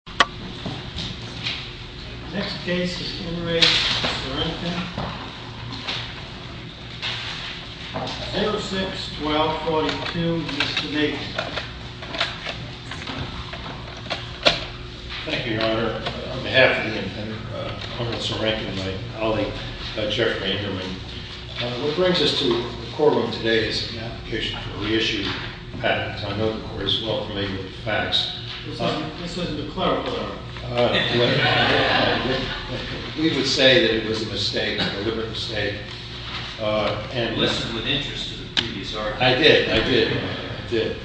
06-12-42, Mr. Davis. Thank you, Your Honor. On behalf of the Intender, Colonel Serenkin, and my colleague, Judge Jeffrey Enderman, what brings us to the courtroom today is an application for a reissue of patents. I know the court is well-familiar with the facts. This isn't a clerical error. We would say that it was a mistake, a deliberate mistake. You listened with interest to the previous argument. I did. I did. I did.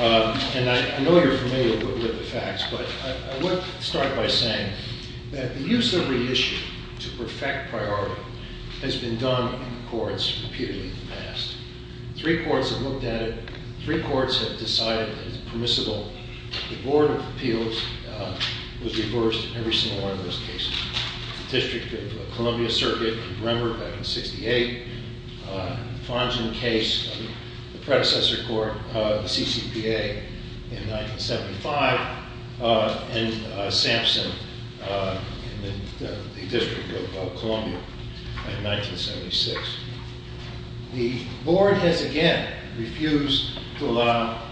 And I know you're familiar with the facts, but I want to start by saying that the use of reissue to perfect priority has been done on the courts repeatedly in the past. Three courts have looked at it. Three courts have decided that it's permissible. The Board of Appeals was reversed in every single one of those cases. The District of Columbia Circuit in November 1968. The Fonzin case, the predecessor court, the CCPA in 1975. And Sampson in the District of Columbia in 1976. The Board has again refused to allow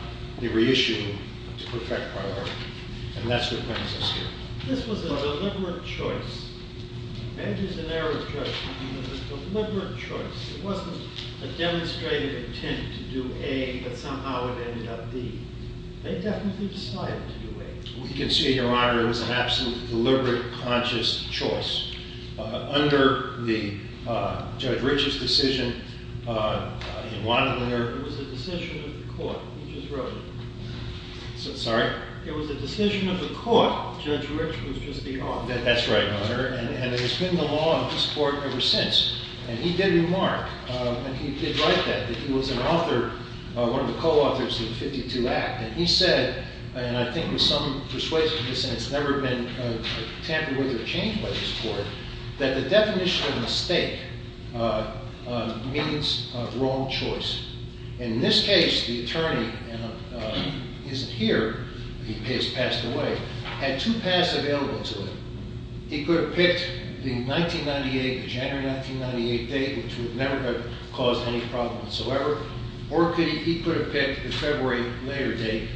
the reissue to perfect priority. And that's what brings us here. This was a deliberate choice. And it is an error of judgment. It was a deliberate choice. It wasn't a demonstrated intent to do A, but somehow it ended up B. They definitely decided to do A. Well, you can see, Your Honor, it was an absolutely deliberate, conscious choice. Under the Judge Rich's decision in Wadleyer. It was a decision of the court. You just wrote it. Sorry? It was a decision of the court. Judge Rich was just the owner. That's right, Your Honor. And it has been the law of this court ever since. And he did remark, and he did write that, that he was an author, one of the co-authors of the 52 Act. And he said, and I think there's some persuasion in this, and it's never been tampered with or changed by this court, that the definition of mistake means wrong choice. And in this case, the attorney isn't here. He has passed away. Had two paths available to him. He could have picked the 1998, the January 1998 date, which would never have caused any problem whatsoever. Or he could have picked the February later date.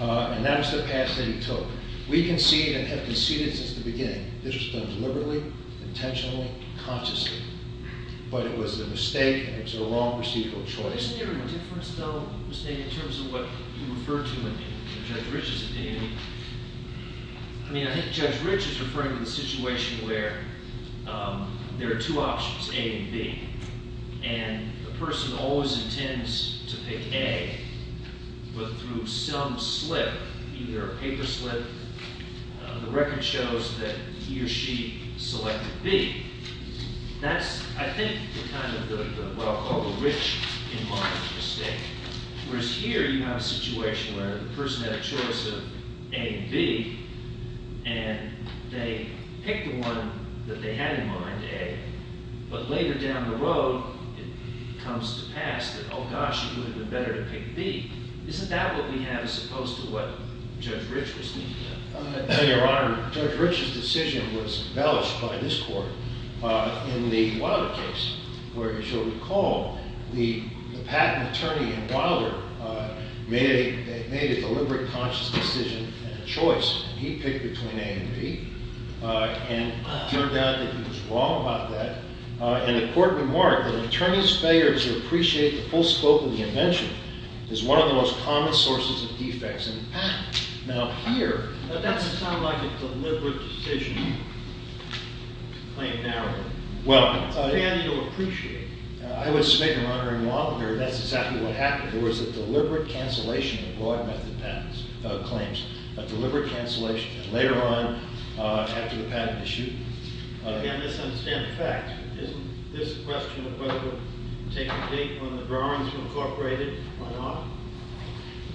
And that was the path that he took. We concede and have conceded since the beginning. This was done deliberately, intentionally, consciously. But it was a mistake, and it was a wrong procedural choice. Isn't there a difference, though, in terms of what you refer to in Judge Rich's opinion? I mean, I think Judge Rich is referring to the situation where there are two options, A and B. And the person always intends to pick A. But through some slip, either a paper slip, the record shows that he or she selected B. That's, I think, kind of what I'll call the Rich in mind mistake. Whereas here you have a situation where the person had a choice of A and B. And they picked the one that they had in mind, A. But later down the road, it comes to pass that, oh, gosh, it would have been better to pick B. Isn't that what we have as opposed to what Judge Rich was thinking? No, Your Honor. Judge Rich's decision was embellished by this court in the Wilder case, where, as you'll recall, the patent attorney in Wilder made a deliberate, conscious decision and a choice. He picked between A and B. And it turned out that he was wrong about that. And the court remarked that an attorney's failure to appreciate the full scope of the invention is one of the most common sources of defects in the patent. Now, here, that's kind of like a deliberate decision to claim narrowly. Well, and you'll appreciate, I would submit, Your Honor, in Wilder, that's exactly what happened. There was a deliberate cancellation of broad method claims, a deliberate cancellation. And later on, after the patent issue. Again, I misunderstand the fact. Isn't this a question of whether to take the date when the drawings were incorporated or not?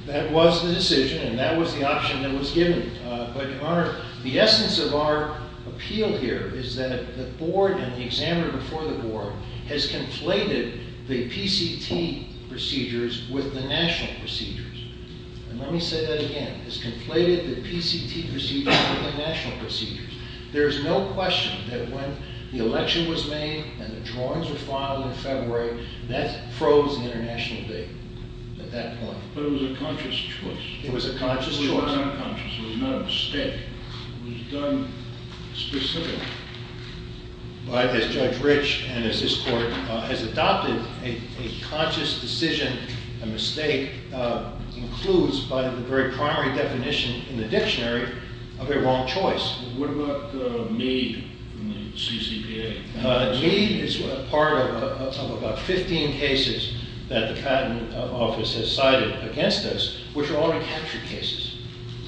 That was the decision, and that was the option that was given. But, Your Honor, the essence of our appeal here is that the board and the examiner before the board has conflated the PCT procedures with the national procedures. And let me say that again. Has conflated the PCT procedures with the national procedures. There is no question that when the election was made and the drawings were filed in February, that froze the international date at that point. But it was a conscious choice. It was a conscious choice. It was not unconscious. It was not a mistake. It was done specifically. As Judge Rich and as this court has adopted, a conscious decision, a mistake, includes by the very primary definition in the dictionary of a wrong choice. What about Meade from the CCPA? Meade is part of about 15 cases that the Patent Office has cited against us, which are all recapture cases.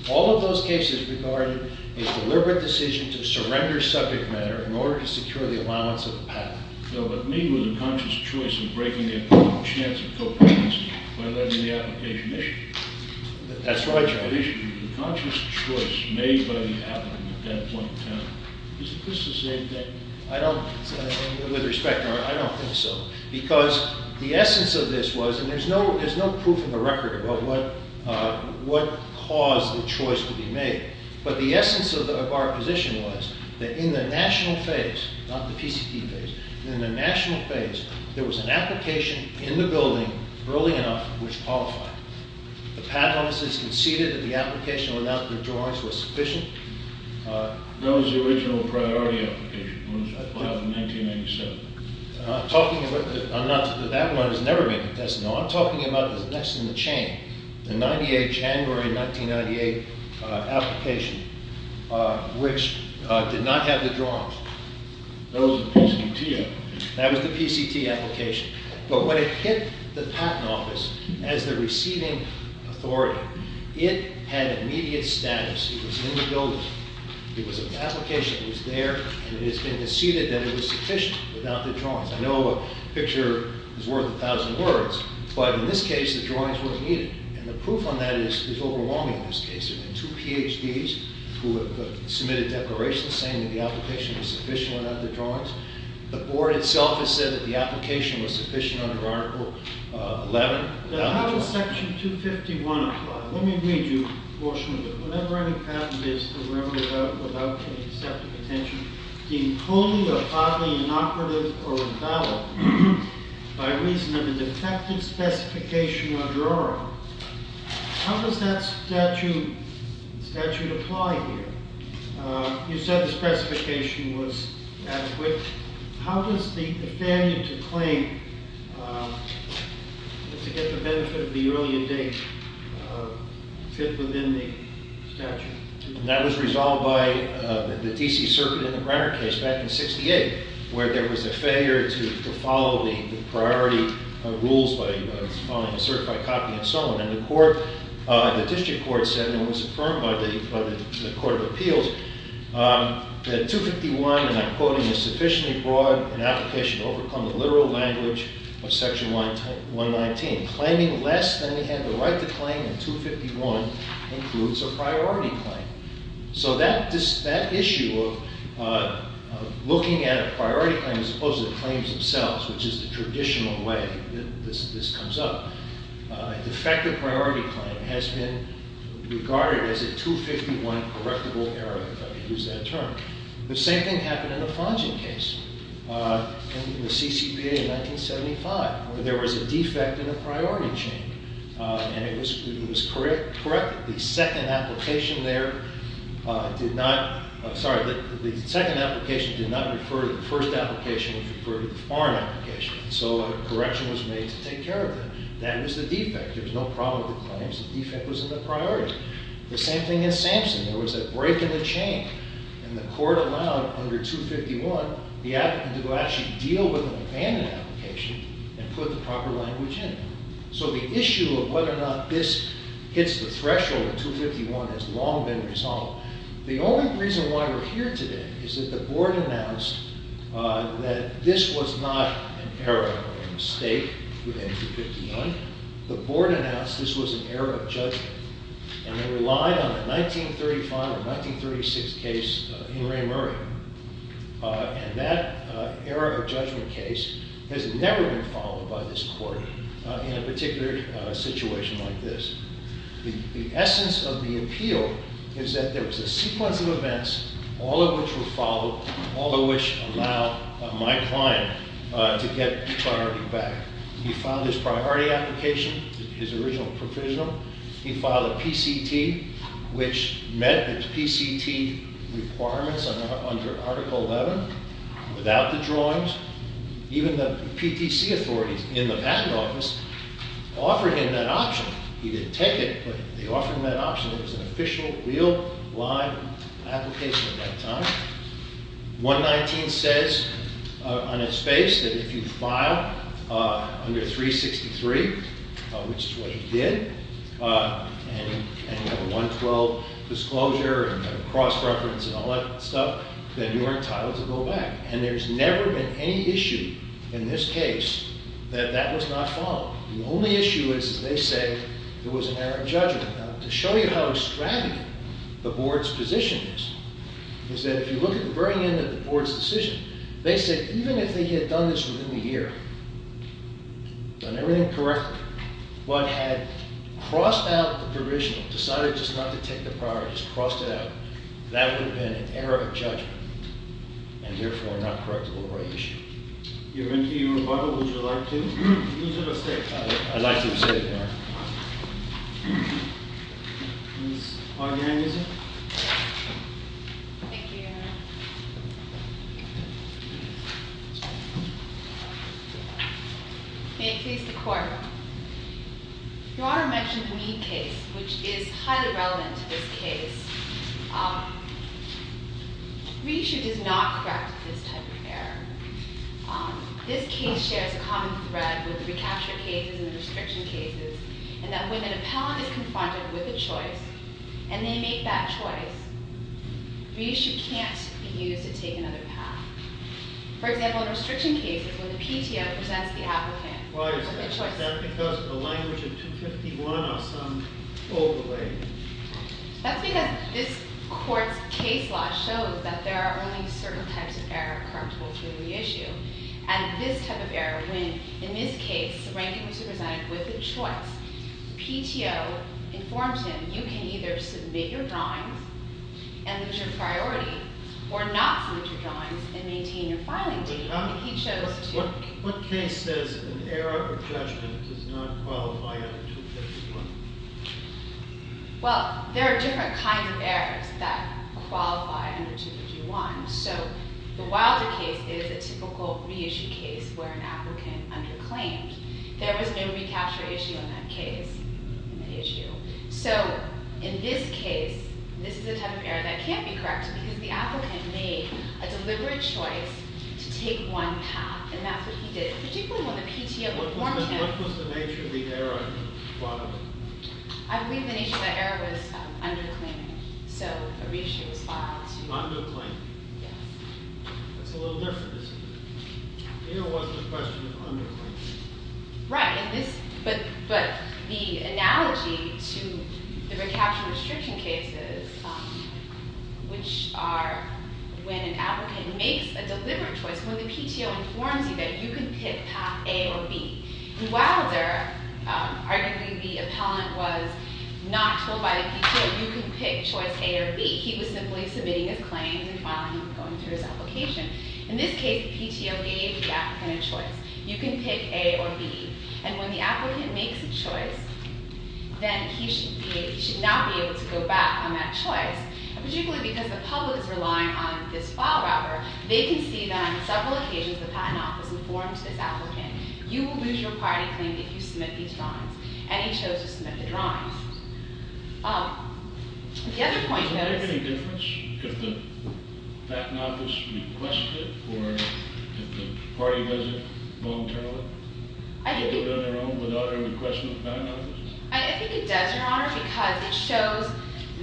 All of those cases regarded a deliberate decision to surrender subject matter in order to secure the allowance of a patent. No, but Meade was a conscious choice in breaking the important chance of co-patency by letting the application issue. That's right, Your Honor. The conscious choice made by the applicant at that point in time. Isn't this the same thing? I don't, with respect, Your Honor, I don't think so. Because the essence of this was, and there's no proof in the record about what caused the choice to be made, but the essence of our position was that in the national phase, not the PCP phase, in the national phase, there was an application in the building early enough which qualified. The Patent Office has conceded that the application without withdrawals was sufficient. That was the original priority application. It was filed in 1997. I'm not talking about, that one has never been contested. No, I'm talking about the next in the chain, the January 1998 application which did not have withdrawals. That was the PCT application. That was the PCT application. But when it hit the Patent Office as the receiving authority, it had immediate status. It was in the building. It was an application. It was there. And it has been conceded that it was sufficient without the drawings. I know a picture is worth a thousand words, but in this case, the drawings were needed. And the proof on that is overwhelming in this case. There have been two PhDs who have submitted declarations saying that the application was sufficient without the drawings. The Board itself has said that the application was sufficient under Article 11. Now, how does Section 251 apply? Let me read you a portion of it. Whatever any patent is to remember without any deceptive attention, deemed wholly or partly inoperative or invalid by reason of a defective specification or drawing. How does that statute apply here? You said the specification was adequate. How does the failure to claim to get the benefit of the earlier date fit within the statute? That was resolved by the D.C. Circuit in the Brenner case back in 1968 where there was a failure to follow the priority rules by following a certified copy and so on. The District Court said and was affirmed by the Court of Appeals that 251, and I'm quoting, is sufficiently broad an application to overcome the literal language of Section 119. Claiming less than we have the right to claim in 251 includes a priority claim. So that issue of looking at a priority claim as opposed to the claims themselves, which is the traditional way this comes up. A defective priority claim has been regarded as a 251 correctable error, if I can use that term. The same thing happened in the Fongen case in the CCPA in 1975 where there was a defect in the priority chain. And it was corrected. The second application there did not, I'm sorry, the second application did not refer to the first application. It referred to the foreign application. So a correction was made to take care of that. That was the defect. There was no problem with the claims. The defect was in the priority. The same thing in Sampson. There was a break in the chain. And the Court allowed under 251 the applicant to actually deal with an abandoned application and put the proper language in it. So the issue of whether or not this hits the threshold of 251 has long been resolved. The only reason why we're here today is that the Board announced that this was not an error or a mistake with 251. The Board announced this was an error of judgment. And they relied on the 1935 or 1936 case in Ray Murray. And that error of judgment case has never been followed by this Court in a particular situation like this. The essence of the appeal is that there was a sequence of events, all of which were followed, all of which allowed my client to get priority back. He filed his priority application, his original provisional. He filed a PCT, which met his PCT requirements under Article 11 without the drawings. Even the PTC authorities in the Patent Office offered him that option. He didn't take it, but they offered him that option. It was an official, real, live application at that time. 119 says on its face that if you file under 363, which is what he did, and you have a 112 disclosure and a cross-reference and all that stuff, then you are entitled to go back. And there's never been any issue in this case that that was not followed. The only issue is, as they say, there was an error of judgment. Now, to show you how extravagant the Board's position is, is that if you look at the very end of the Board's decision, they said even if they had done this within the year, done everything correctly, but had crossed out the provisional, decided just not to take the priority, just crossed it out, that would have been an error of judgment and therefore not correctable by issue. Your Honour, your rebuttal, would you like to use it or stay? I'd like to stay, Your Honour. Ms. Harding, is it? Yes. Thank you, Your Honour. May it please the Court. Your Honour mentioned the Mead case, which is highly relevant to this case. Reissue does not correct this type of error. This case shares a common thread with the recapture cases and the restriction cases, in that when an appellant is confronted with a choice, and they make that choice, reissue can't be used to take another path. For example, in restriction cases, when the PTO presents the applicant with a choice— Why is that? Is that because of the language of 251 or some overlay? That's because this Court's case law shows that there are only certain types of error correctable through the issue, and this type of error, when, in this case, the ranking was presented with a choice, the PTO informs him, you can either submit your drawings and lose your priority, or not submit your drawings and maintain your filing date. But, Your Honour, what case says an error of judgment does not qualify under 251? Well, there are different kinds of errors that qualify under 251. So, the Wilder case is a typical reissue case where an applicant underclaimed. There was no recapture issue in that case, in the issue. So, in this case, this is a type of error that can't be corrected, because the applicant made a deliberate choice to take one path, and that's what he did, particularly when the PTO informed him. What was the nature of the error? I believe the nature of the error was underclaiming, so a reissue was filed. Underclaiming? Yes. That's a little different, isn't it? Here was the question of underclaiming. Right, but the analogy to the recapture restriction cases, which are when an applicant makes a deliberate choice, when the PTO informs you that you can pick path A or B, the Wilder, arguably the appellant, was not told by the PTO, you can pick choice A or B. He was simply submitting his claims and finally going through his application. In this case, the PTO gave the applicant a choice. You can pick A or B. And when the applicant makes a choice, then he should not be able to go back on that choice, particularly because the public is relying on this file robber. They can see that on several occasions the Patent Office informed this applicant, you will lose your party claim if you submit these drawings, and he chose to submit the drawings. The other point that is— Does it make any difference if the Patent Office requests it or if the party does it voluntarily? I think— Does it do it on their own without any request from the Patent Office? I think it does, Your Honor, because it shows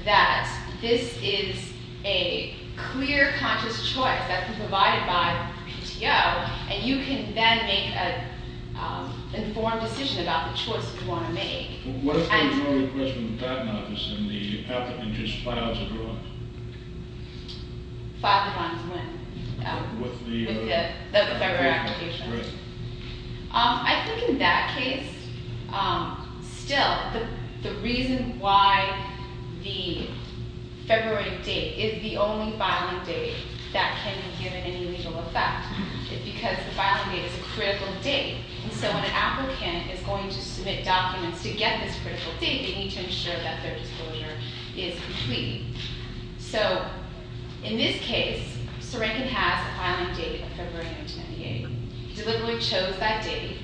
that this is a clear conscious choice that's been provided by the PTO, and you can then make an informed decision about the choice you want to make. What if there was no request from the Patent Office and the applicant just files the drawings? Files the drawings when? With the— With the February application. Right. I think in that case, still, the reason why the February date is the only filing date that can be given any legal effect is because the filing date is a critical date, and so when an applicant is going to submit documents to get this critical date, they need to ensure that their disclosure is complete. So in this case, Sarankin has a filing date of February 1998. He deliberately chose that date.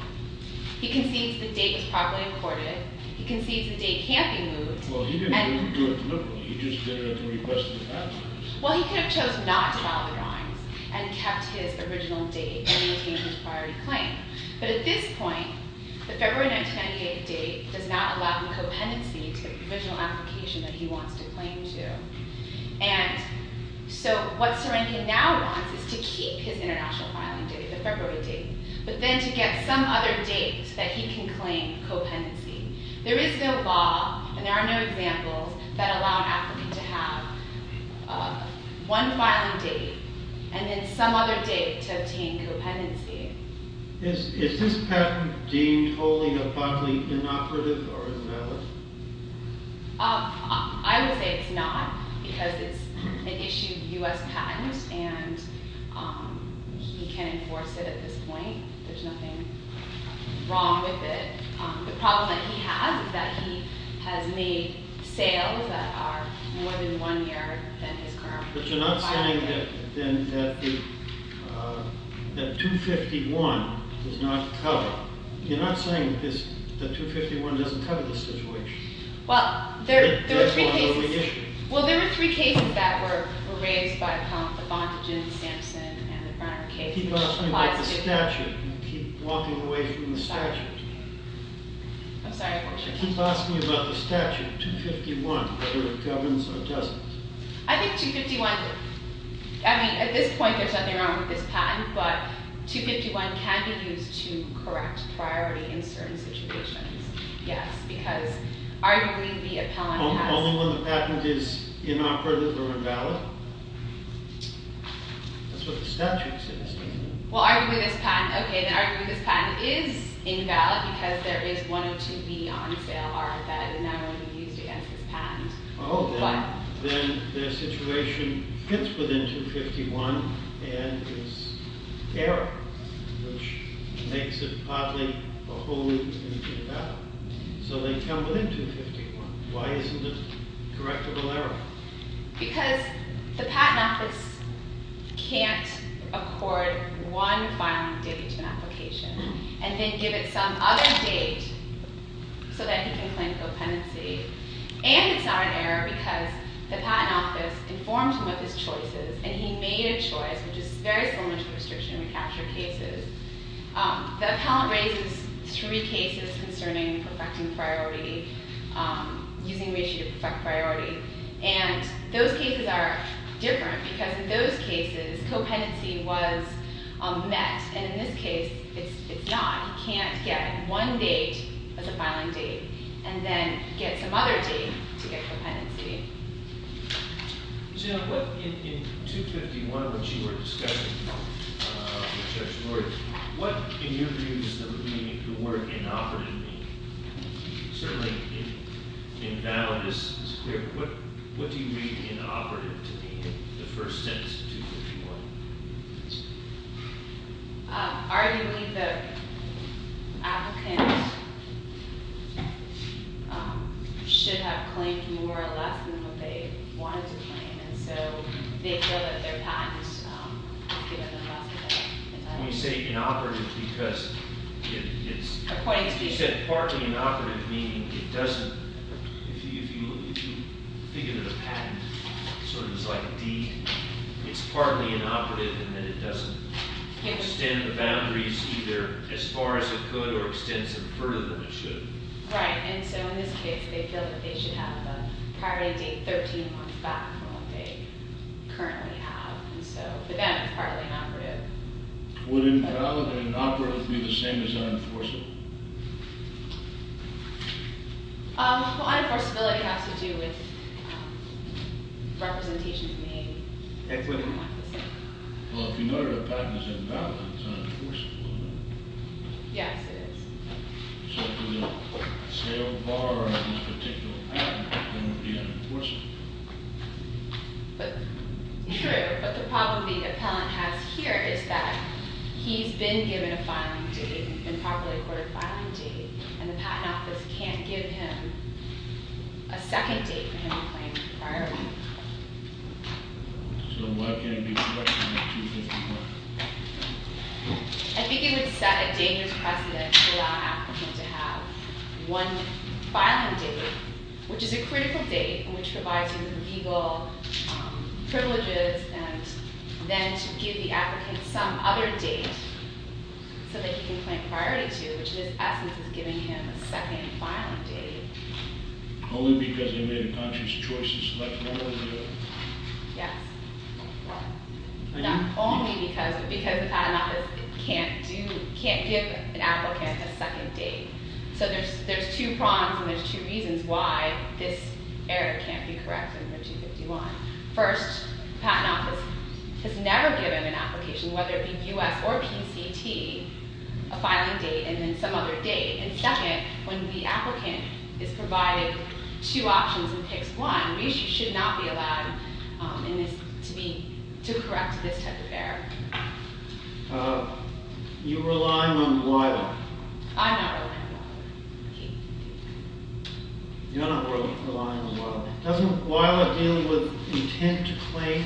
He concedes the date was properly recorded. He concedes the date can't be moved. Well, he didn't do it deliberately. He just did it at the request of the Patent Office. Well, he could have chosen not to file the drawings and kept his original date and maintained his priority claim, but at this point, the February 1998 date does not allow him co-pendency to the provisional application that he wants to claim to, and so what Sarankin now wants is to keep his international filing date, the February date, but then to get some other date that he can claim co-pendency. There is no law, and there are no examples, that allow an applicant to have one filing date and then some other date to obtain co-pendency. Is this patent deemed wholly and abundantly inoperative or invalid? I would say it's not because it's an issued U.S. patent, and he can enforce it at this point. There's nothing wrong with it. The problem that he has is that he has made sales that are more than one year than his current filing date. But you're not saying that 251 does not cover. You're not saying that 251 doesn't cover the situation. Well, there were three cases. Three cases that were raised by Appellant. The Bondogen, Sampson, and the Brunner case. Keep asking about the statute. Keep walking away from the statute. I'm sorry. Keep asking about the statute, 251, whether it governs or doesn't. I think 251... I mean, at this point, there's nothing wrong with this patent, but 251 can be used to correct priority in certain situations, yes, because arguably the Appellant has... Only when the patent is inoperative or invalid. That's what the statute says. Well, arguably this patent... Okay, then arguably this patent is invalid because there is 102B on sale, RFI, and that will be used against this patent. Oh, then their situation fits within 251 and is error, which makes it partly or wholly invalid. So they come within 251. Why isn't it correctable error? Because the Patent Office can't accord one filing date to an application and then give it some other date so that he can claim co-pendency. And it's not an error because the Patent Office informed him of his choices, and he made a choice, which is very similar to restriction recapture cases. The Appellant raises three cases concerning perfecting priority, using ratio to perfect priority, and those cases are different because in those cases co-pendency was met, and in this case it's not. He can't get one date as a filing date and then get some other date to get co-pendency. Jim, in 251, which you were discussing with Judge Lord, what, in your views, does the word inoperative mean? Certainly invalid is clear, but what do you mean inoperative to me in the first sentence of 251? Arguably, the applicant should have claimed more or less than what they wanted to claim, and so they feel that their patent has given them less of an entitlement. Let me say inoperative because it's... According to you. You said partly inoperative, meaning it doesn't... If you think of it as a patent, sort of like a deed, it's partly inoperative in that it doesn't extend the boundaries either as far as it could or extend them further than it should. Right, and so in this case they feel that they should have the priority date 13 months back from what they currently have, and so for them it's partly inoperative. Would invalid and inoperative be the same as unenforceable? Well, unenforceability has to do with representations made. Well, if you know that a patent is invalid, it's unenforceable, isn't it? Yes, it is. So if there's a sale bar on this particular patent, then it would be unenforceable. True, but the problem the appellant has here is that he's been given a filing date, improperly accorded filing date, and the patent office can't give him a second date for him to claim the priority. So why can't it be corrected to 15 months? I think it would set a dangerous precedent to allow an applicant to have one filing date, which is a critical date in which it provides him with legal privileges, and then to give the applicant some other date so that he can claim priority to, which in its essence is giving him a second filing date. Only because he made a conscious choice to select one or the other? Yes. Not only because, but because the patent office can't give an applicant a second date. So there's two prongs and there's two reasons why this error can't be corrected under 251. First, the patent office has never given an application, whether it be U.S. or PCT, a filing date and then some other date. And second, when the applicant is provided two options and picks one, we should not be allowed to correct this type of error. You're relying on WILA. I'm not relying on WILA. You're not relying on WILA. Doesn't WILA deal with intent to claim?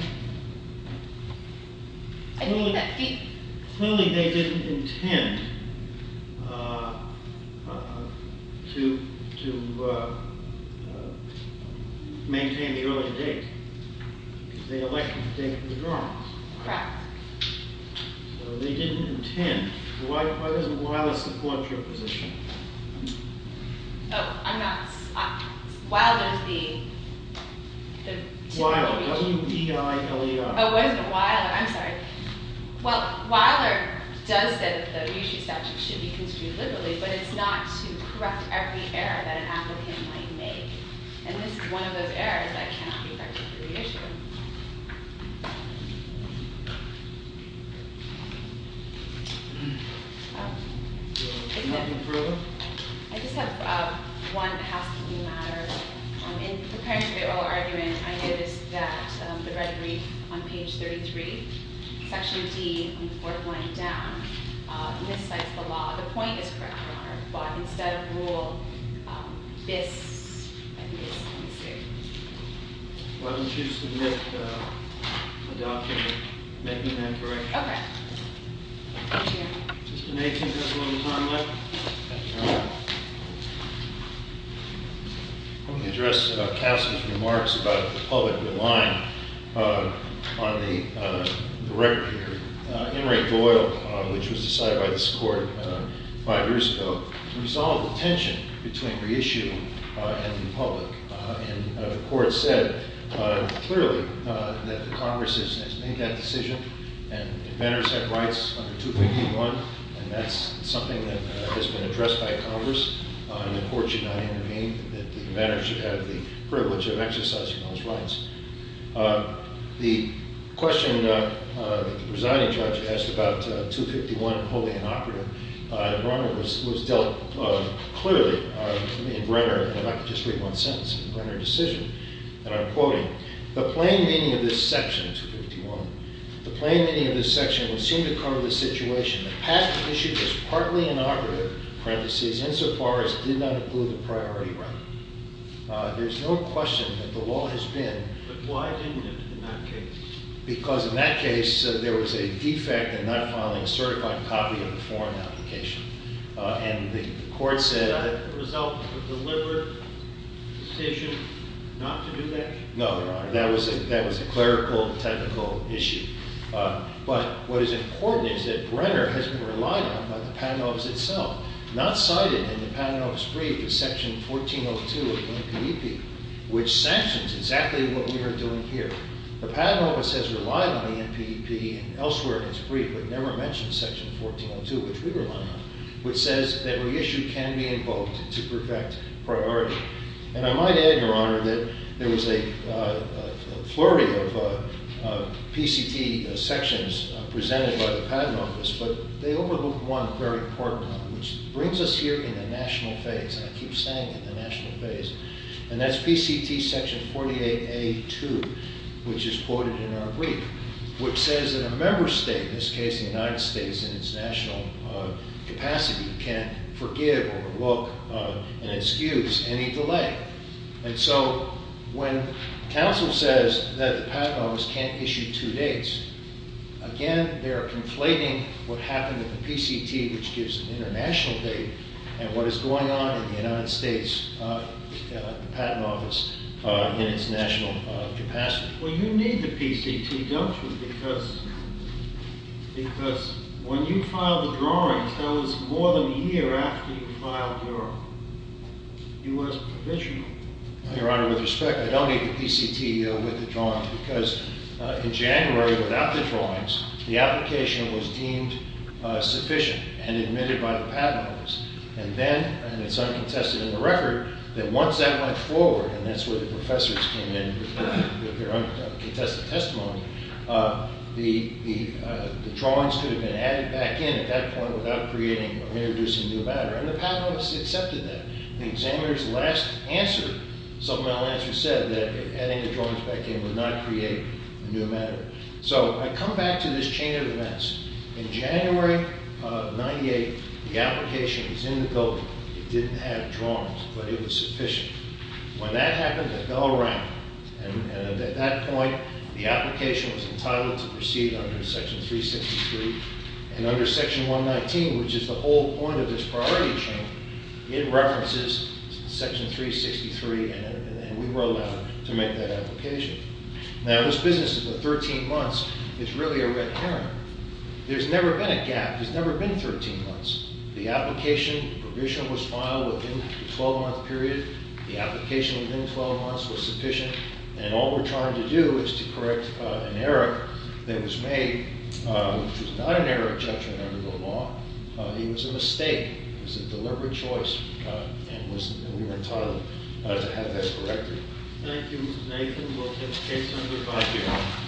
I think that... Clearly they didn't intend to maintain the earlier date. They elected the date of the drawings. Correct. So they didn't intend. Why doesn't WILA support your position? Oh, I'm not... WILA does the... WILA. W-I-L-A-R. Oh, WILA. I'm sorry. Well, WILA does say that the issue statute should be construed liberally, but it's not to correct every error that an applicant might make. And this is one of those errors that cannot be corrected for the issue. Thank you. Anything further? I just have one that has to do with the matter. In preparing for the oral argument, I noticed that the rhetoric on page 33, section D, on the fourth line down, miscites the law. The point is correct, Your Honor, but instead of rule, this... I think it's... Why don't you submit a document making that correction? Okay. Let me address Cassie's remarks about the public relying on the record here. Henry Doyle, which was decided by this Court five years ago, resolved the tension between the issue and the public. And the Court said clearly that the Congress has made that decision and the matters have rights under 251, and that's something that has been addressed by Congress, and the Court should not intervene, and that the matter should have the privilege of exercising those rights. The question that the presiding judge asked about 251 and holding it operative, was dealt clearly in Brenner, and I could just read one sentence in Brenner's decision, and I'm quoting, the plain meaning of this section, 251, the plain meaning of this section would seem to cover the situation that passed the issue as partly inaugurative, parentheses, insofar as did not include the priority right. There's no question that the law has been... But why didn't it in that case? Because in that case, there was a defect in not filing a certified copy of the foreign application, and the Court said that... Was that the result of a deliberate decision not to do that? No, Your Honor, that was a clerical, technical issue. But what is important is that Brenner has been relied on by the Patent Office itself, not cited in the Patent Office brief in Section 1402 of the NPDP, which sanctions exactly what we are doing here. The Patent Office has relied on the NPDP and elsewhere in its brief, but never mentioned Section 1402, which we rely on, which says that reissue can be invoked to perfect priority. And I might add, Your Honor, that there was a flurry of PCT sections presented by the Patent Office, but they overlooked one very important one, which brings us here in the national phase, and I keep saying in the national phase, and that's PCT Section 48A.2, which is quoted in our brief, which says that a member state, in this case the United States in its national capacity, can't forgive or revoke an excuse, any delay. And so when counsel says that the Patent Office can't issue two dates, again, they are conflating what happened in the PCT, which gives an international date, and what is going on in the United States, the Patent Office in its national capacity. Well, you need the PCT, don't you? Because when you filed the drawings, that was more than a year after you filed your U.S. provisional. Your Honor, with respect, I don't need the PCT with the drawings because in January, without the drawings, the application was deemed sufficient and admitted by the Patent Office. And then, and it's uncontested in the record, that once that went forward, and that's where the professors came in with their uncontested testimony, the drawings could have been added back in at that point without creating or introducing a new matter, and the Patent Office accepted that. The examiner's last answer, supplemental answer, said that adding the drawings back in would not create a new matter. So I come back to this chain of events. In January of 1998, the application was in the building. It didn't have drawings, but it was sufficient. When that happened, it fell around. And at that point, the application was entitled to proceed under Section 363. And under Section 119, which is the whole point of this priority chain, it references Section 363, and we were allowed to make that application. Now, this business, for 13 months, is really a red herring. There's never been a gap. There's never been 13 months. The application, the permission was filed within the 12-month period. The application within 12 months was sufficient. And all we're trying to do is to correct an error that was made, which was not an error of judgment under the law. It was a mistake. It was a deliberate choice, and we were entitled to have that corrected. Thank you, Mr. Nathan. We'll take case number 5 here.